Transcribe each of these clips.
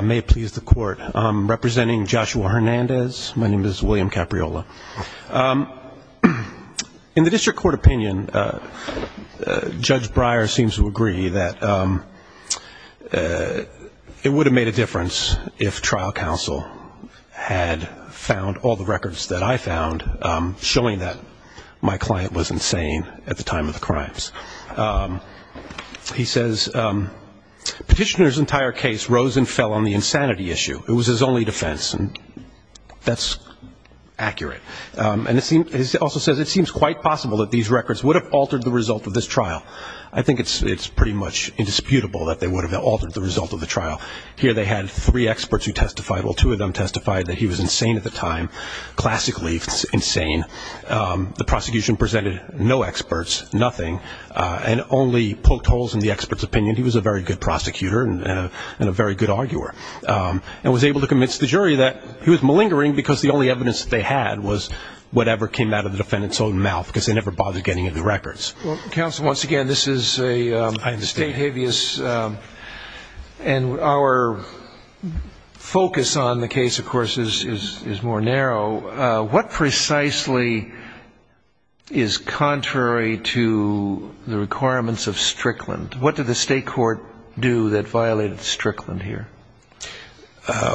May it please the Court, I'm representing Joshua Hernandez, my name is William Capriola. In the District Court opinion, Judge Breyer seems to agree that it would have made a difference if trial counsel had found all the records that I found showing that my client was insane at the time of the crimes. Petitioner's entire case rose and fell on the insanity issue. It was his only defense. That's accurate. He also says it seems quite possible that these records would have altered the result of this trial. I think it's pretty much indisputable that they would have altered the result of the trial. Here they had three experts who testified, well two of them testified that he was insane at the time, classically insane. The prosecution presented no experts, nothing, and only poked holes in the expert's opinion. He was a very good prosecutor and a very good arguer and was able to convince the jury that he was malingering because the only evidence they had was whatever came out of the defendant's own mouth because they never bothered getting any records. Counsel, once again, this is a state habeas and our focus on the case, of course, is more narrow. What precisely is contrary to the requirements of Strickland? What did the state court do that violated Strickland here?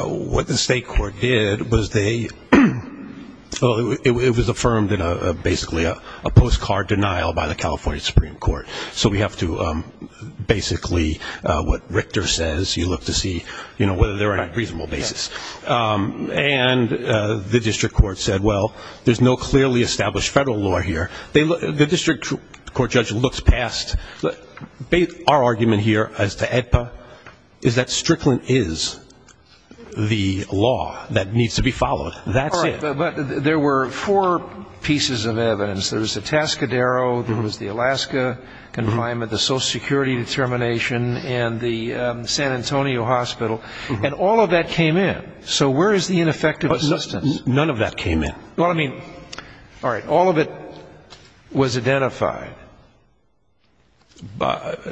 What the state court did was they, it was affirmed in basically a postcard denial by the California Supreme Court. So we have to basically, what Richter says, you look to see whether they're on a reasonable basis. And the district court said, well, there's no clearly established federal law here. The district court judge looks past, our argument here as to AEDPA is that Strickland is the law that needs to be followed. That's it. But there were four pieces of evidence. There was the Tascadero, there was the Alaska confinement, the social security determination, and the San Antonio hospital. And all of that came in. So where is the ineffective assistance? None of that came in. Well, I mean, all right, all of it was identified.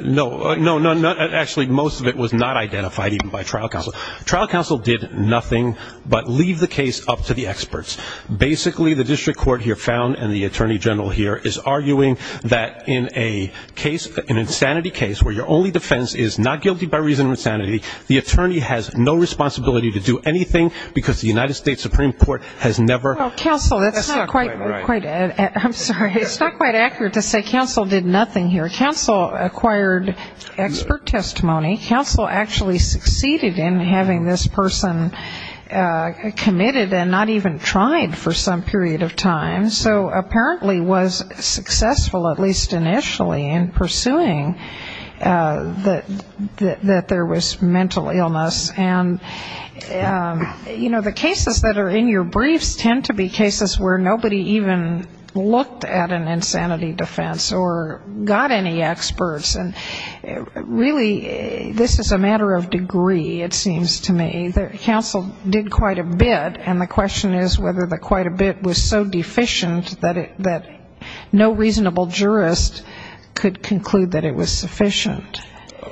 No, no, no, actually most of it was not identified even by trial counsel. Trial counsel did nothing but leave the case up to the experts. Basically, the district court here found and the attorney general here is arguing that in a case, an insanity case where your only defense is not guilty by reason of insanity, the attorney has no responsibility to do anything because the United States Supreme Court has never. Well, counsel, that's not quite, I'm sorry, it's not quite accurate to say counsel did nothing here. Counsel acquired expert testimony. Counsel actually succeeded in having this person committed and not even tried for some period of time. So apparently was successful, at least initially, in pursuing that there was mental illness. And, you know, the cases that are in your briefs tend to be cases where nobody even looked at an insanity defense or got any experts. And really this is a matter of degree, it seems to me. Counsel did quite a bit, and the question is whether the quite a bit was so deficient that no reasonable jurist could conclude that it was sufficient.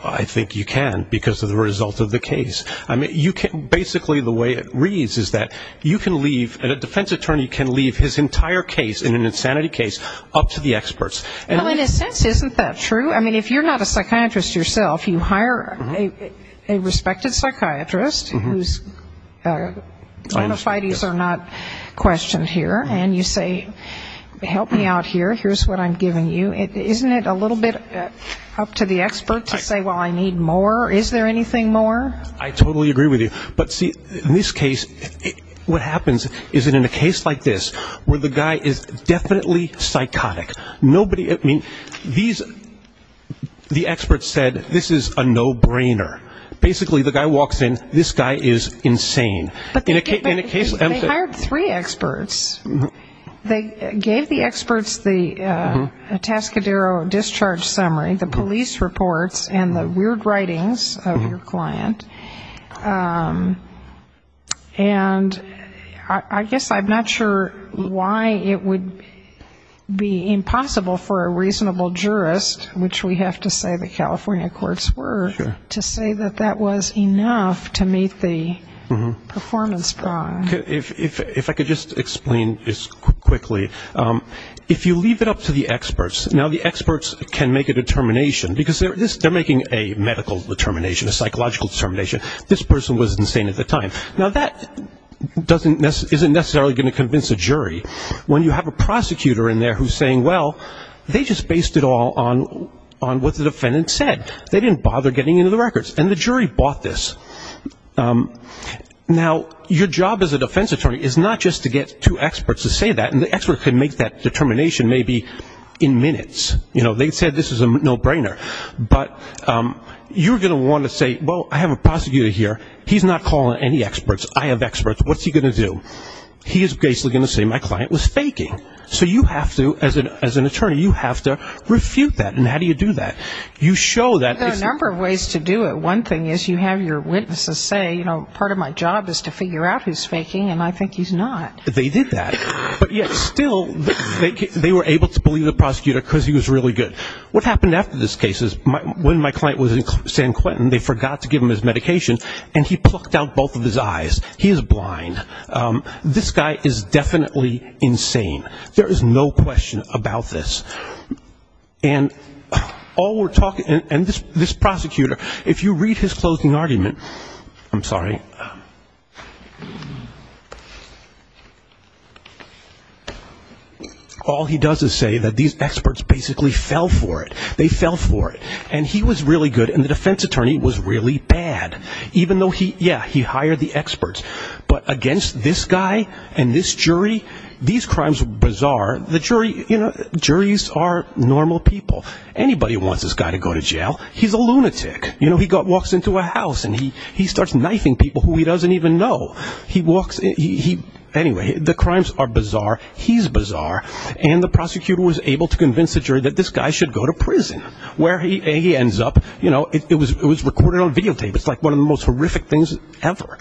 I think you can because of the result of the case. Basically the way it reads is that you can leave, and a defense attorney can leave his entire case in an insanity case up to the experts. Well, in a sense, isn't that true? I mean, if you're not a psychiatrist yourself, you hire a respected psychiatrist whose bona fides are not questioned here, and you say, help me out here, here's what I'm giving you. Isn't it a little bit up to the expert to say, well, I need more? Is there anything more? I totally agree with you. But see, in this case, what happens is that in a case like this where the guy is definitely psychotic, nobody at me, the experts said this is a no-brainer. Basically the guy walks in, this guy is insane. But they hired three experts. They gave the experts the Tascadero discharge summary, the police reports, and the weird writings of your client. And I guess I'm not sure why it would be impossible for a reasonable jurist, which we have to say the California courts were, to say that that was enough to meet the performance bar. If I could just explain this quickly, if you leave it up to the experts, now the experts can make a determination, because they're making a medical determination, a psychological determination, this person was insane at the time. Now that isn't necessarily going to convince a jury when you have a prosecutor in there who's saying, well, they just based it all on what the defendant said. They didn't bother getting into the records. And the jury bought this. Now, your job as a defense attorney is not just to get two experts to say that, and the experts can make that determination maybe in minutes. You know, they said this is a no-brainer. But you're going to want to say, well, I have a prosecutor here. He's not calling any experts. I have experts. What's he going to do? He is basically going to say my client was faking. So you have to, as an attorney, you have to refute that. And how do you do that? You show that. There are a number of ways to do it. One thing is you have your witnesses say, you know, part of my job is to figure out who's faking, and I think he's not. They did that. But yet still, they were able to believe the prosecutor because he was really good. What happened after this case is when my client was in San Quentin, they forgot to give him his medication, and he plucked out both of his eyes. He is blind. This guy is definitely insane. There is no question about this. And this prosecutor, if you read his closing argument, I'm sorry, all he does is say that these experts basically fell for it. They fell for it. And he was really good, and the defense attorney was really bad, even though, yeah, he hired the experts. But against this guy and this jury, these crimes are bizarre. The jury, you know, juries are normal people. Anybody who wants this guy to go to jail, he's a lunatic. You know, he walks into a house, and he starts knifing people who he doesn't even know. Anyway, the crimes are bizarre. He's bizarre. And the prosecutor was able to convince the jury that this guy should go to prison. Where he ends up, you know, it was recorded on videotape. It's like one of the most horrific things ever,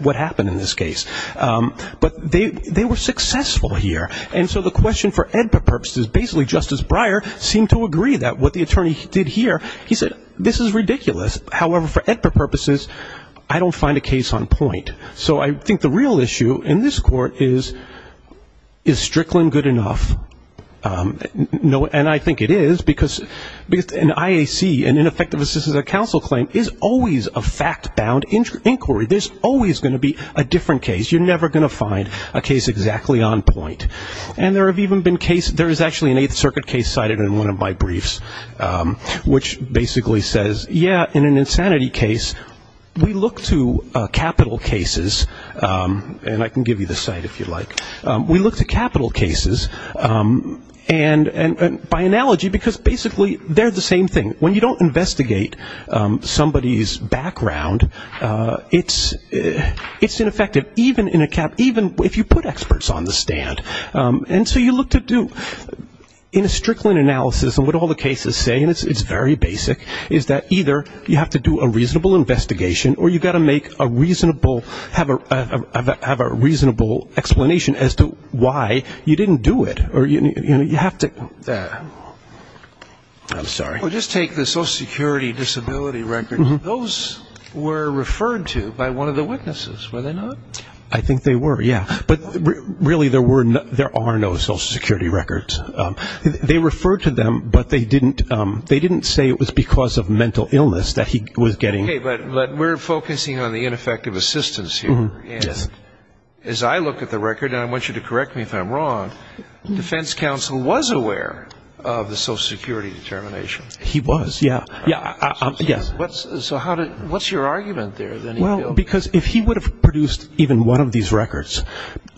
what happened in this case. But they were successful here. And so the question for EDPA purposes, basically Justice Breyer seemed to agree that what the attorney did here, he said, this is ridiculous. However, for EDPA purposes, I don't find a case on point. So I think the real issue in this court is, is Strickland good enough? And I think it is, because an IAC, an ineffective assistance of counsel claim, is always a fact-bound inquiry. There's always going to be a different case. You're never going to find a case exactly on point. And there have even been cases, there is actually an Eighth Circuit case cited in one of my briefs, which basically says, yeah, in an insanity case, we look to capital cases, and I can give you the site if you like. We look to capital cases, and by analogy, because basically they're the same thing. When you don't investigate somebody's background, it's ineffective, even in a cap, even if you put experts on the stand. And so you look to do, in a Strickland analysis, and what all the cases say, and it's very basic, is that either you have to do a reasonable investigation, or you've got to make a reasonable, have a reasonable explanation as to why you didn't do it, or you have to, I'm sorry. Well, just take the Social Security disability records. Those were referred to by one of the witnesses, were they not? I think they were, yeah. But really, there are no Social Security records. They referred to them, but they didn't say it was because of mental illness that he was getting. Okay, but we're focusing on the ineffective assistance here. And as I look at the record, and I want you to correct me if I'm wrong, defense counsel was aware of the Social Security determination. He was, yeah. So what's your argument there? Well, because if he would have produced even one of these records,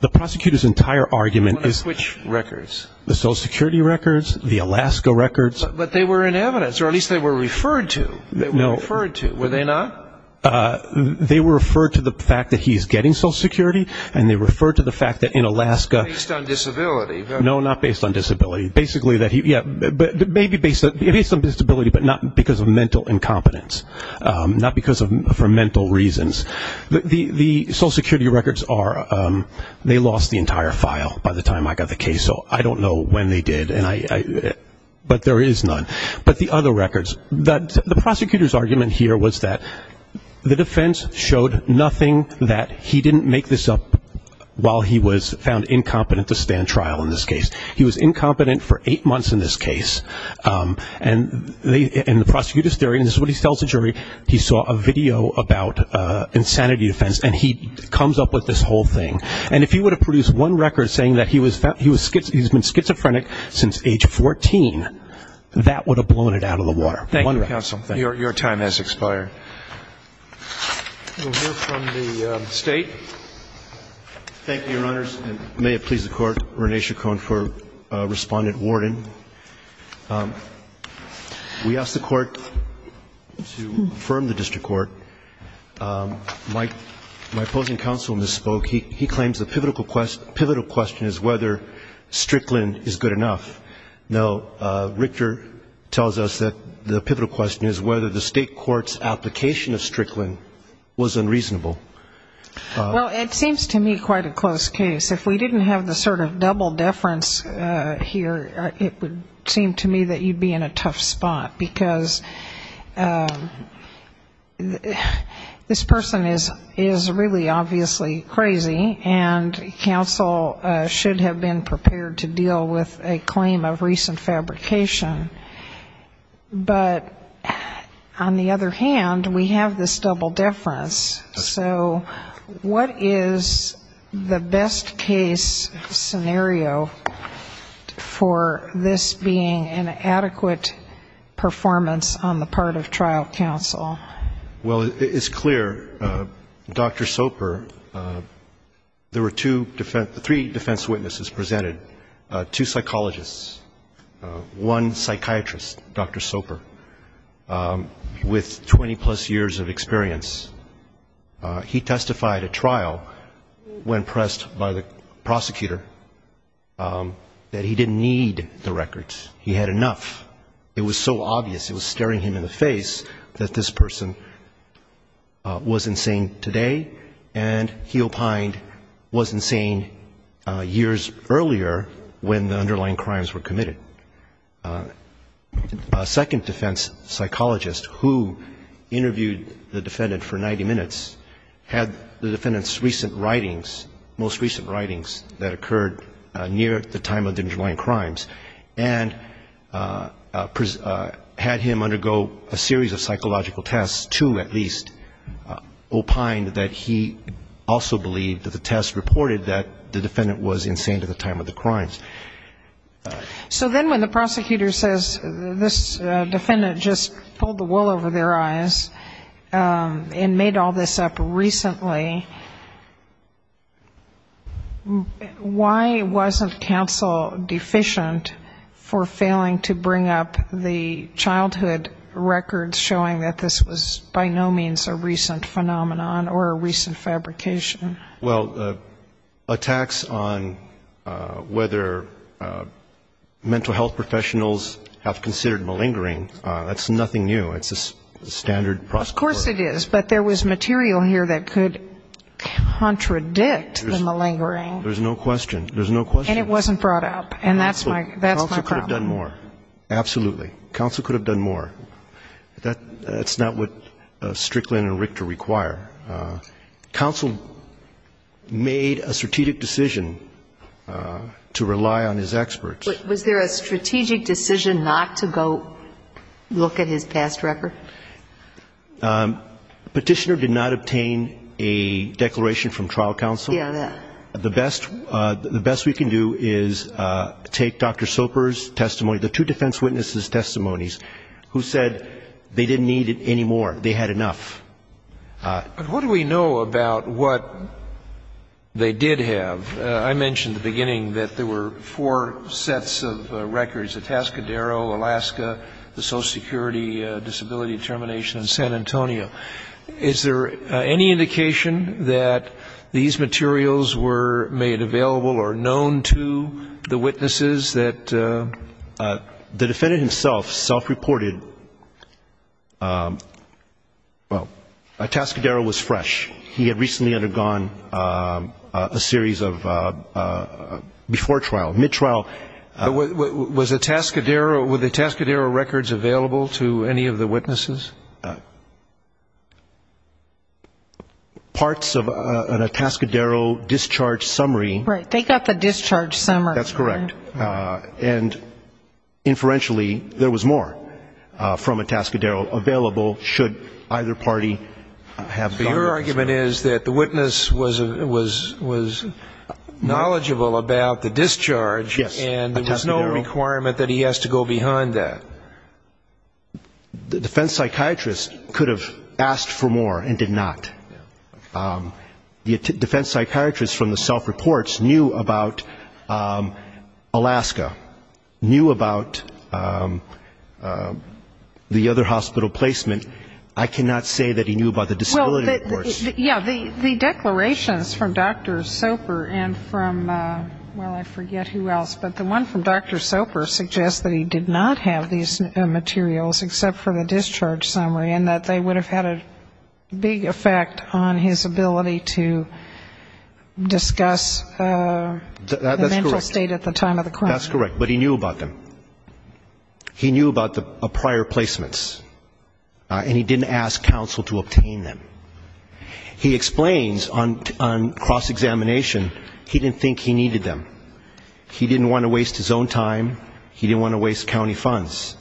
the prosecutor's entire argument is Which records? The Social Security records, the Alaska records. But they were in evidence, or at least they were referred to. They were referred to, were they not? They were referred to the fact that he's getting Social Security, and they referred to the fact that in Alaska Based on disability. No, not based on disability. Basically, yeah, maybe based on disability, but not because of mental incompetence. Not because of mental reasons. The Social Security records are, they lost the entire file by the time I got the case, so I don't know when they did, but there is none. But the other records, the prosecutor's argument here was that the defense showed nothing, that he didn't make this up while he was found incompetent to stand trial in this case. He was incompetent for eight months in this case, and the prosecutor's theory, and this is what he tells the jury, he saw a video about insanity defense, and he comes up with this whole thing. And if he would have produced one record saying that he's been schizophrenic since age 14, that would have blown it out of the water. Thank you, counsel. Your time has expired. We'll hear from the State. Thank you, Your Honors, and may it please the Court. Rene Chacon for Respondent Wharton. We asked the Court to affirm the district court. My opposing counsel misspoke. He claims the pivotal question is whether Strickland is good enough. No, Richter tells us that the pivotal question is whether the state court's application of Strickland was unreasonable. Well, it seems to me quite a close case. If we didn't have the sort of double deference here, it would seem to me that you'd be in a tough spot, because this person is really obviously crazy, and counsel should have been prepared to deal with a claim of recent fabrication. But on the other hand, we have this double deference. So what is the best case scenario for this being an adequate performance on the part of trial counsel? Well, it's clear, Dr. Soper, there were two defense, three defense witnesses presented, two psychologists, one psychiatrist, Dr. Soper, with 20-plus years of experience. He testified at trial when pressed by the prosecutor that he didn't need the records. He had enough. It was so obvious, it was staring him in the face, that this person was insane today and he opined was insane years earlier when the underlying crimes were committed. A second defense psychologist who interviewed the defendant for 90 minutes had the defendant's recent writings, most recent writings that occurred near the time of the underlying crimes, and had him undergo a series of psychological tests to at least opine that he also believed that the test reported that the defendant was insane at the time of the crimes. So then when the prosecutor says this defendant just pulled the wool over their eyes and made all this up recently, why wasn't counsel deficient for failing to bring up the childhood records showing that this was by no means a recent phenomenon or a recent fabrication? Well, attacks on whether mental health professionals have considered malingering, that's nothing new. It's a standard process. Yes, it is. But there was material here that could contradict the malingering. There's no question. There's no question. And it wasn't brought up. And that's my problem. Counsel could have done more. Absolutely. Counsel could have done more. That's not what Strickland and Richter require. Counsel made a strategic decision to rely on his experts. Was there a strategic decision not to go look at his past record? Petitioner did not obtain a declaration from trial counsel. The best we can do is take Dr. Soper's testimony, the two defense witnesses' testimonies, who said they didn't need it anymore. They had enough. But what do we know about what they did have? I mentioned at the beginning that there were four sets of records, the Tascadero, Alaska, the Social Security Disability Determination, and San Antonio. Is there any indication that these materials were made available or known to the witnesses that the defendant himself self-reported, well, a Tascadero was fresh. He had recently undergone a series of before trial, mid-trial. Was a Tascadero, were the Tascadero records available to any of the witnesses? Parts of a Tascadero discharge summary. Right. They got the discharge summary. That's correct. And inferentially, there was more from a Tascadero available should either party have gotten it. So your argument is that the witness was knowledgeable about the discharge, and there was no requirement that he has to go behind that. If the witness knew about Alaska, knew about the other hospital placement, I cannot say that he knew about the disability reports. Yeah, the declarations from Dr. Soper and from, well, I forget who else, but the one from Dr. Soper suggests that he did not have these materials except for the discharge summary, and that they would have had a big effect on his ability to discuss the mental state at the time of the crime. That's correct, but he knew about them. He knew about the prior placements, and he didn't ask counsel to obtain them. He explains on cross-examination he didn't think he needed them. He didn't want to waste his own time. He didn't want to waste county funds.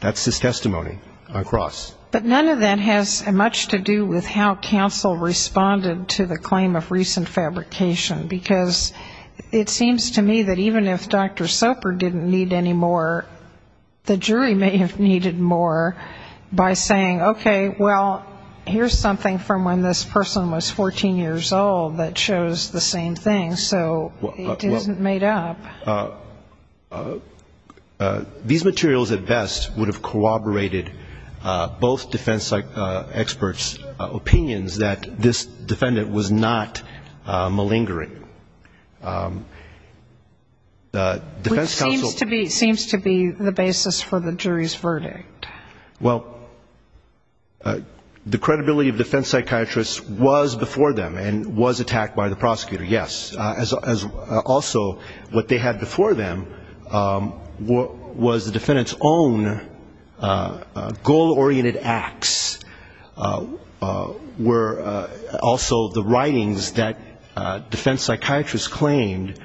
That's his testimony on cross. But none of that has much to do with how counsel responded to the claim of recent fabrication, because it seems to me that even if Dr. Soper didn't need any more, the jury may have needed more by saying, okay, well, here's something from when this person was 14 years old that shows the same thing, so it isn't made up. These materials at best would have corroborated both defense experts' opinions that this defendant was not malingering. It seems to be the basis for the jury's verdict. Well, the credibility of defense psychiatrists was before them and was attacked by the prosecutor, yes. Also, what they had before them was the defendant's own goal-oriented acts, were also the writings that defense psychiatrists claimed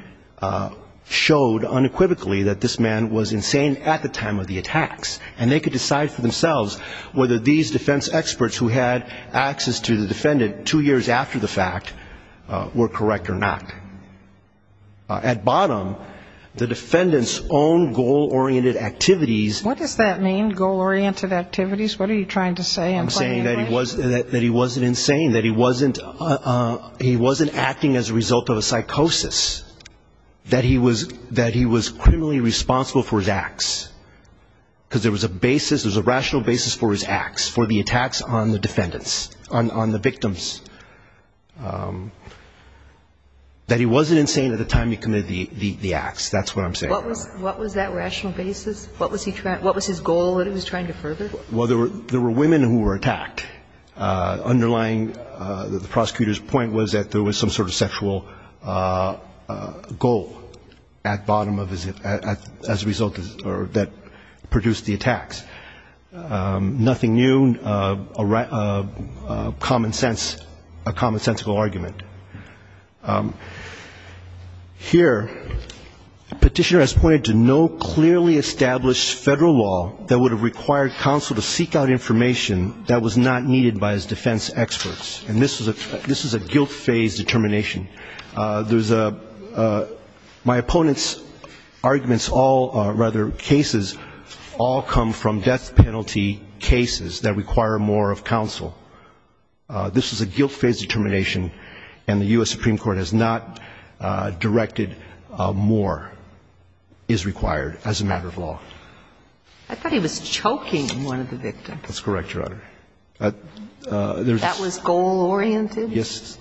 showed unequivocally that this man was insane at the time of the attacks. And they could decide for themselves whether these defense experts who had access to the defendant two years after the fact were correct or not. At bottom, the defendant's own goal-oriented activities... What does that mean, goal-oriented activities? What are you trying to say? I'm saying that he wasn't insane, that he wasn't acting as a result of a psychosis, that he was criminally responsible for his acts, because there was a basis, there was a rational basis for his acts, for the attacks on the defendants, on the victims, that he wasn't insane at the time he committed the acts. That's what I'm saying. What was that rational basis? What was his goal that he was trying to further? Well, there were women who were attacked. Underlying the prosecutor's point was that there was some sort of sexual goal at bottom of his mind as a result that produced the attacks. Nothing new, common sense, a commonsensical argument. Here, the petitioner has pointed to no clearly established federal law that would have required counsel to seek out information that was not needed by his defense experts. And this was a guilt-phase determination. There's a my opponent's arguments all, rather, cases all come from death penalty cases that require more of counsel. This is a guilt-phase determination, and the U.S. Supreme Court has not directed more is required as a matter of law. I thought he was choking one of the victims. That's correct, Your Honor. That was goal-oriented? Yes.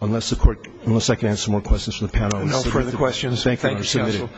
Unless the Court, unless I can answer more questions from the panel. No further questions. Thank you, Counsel.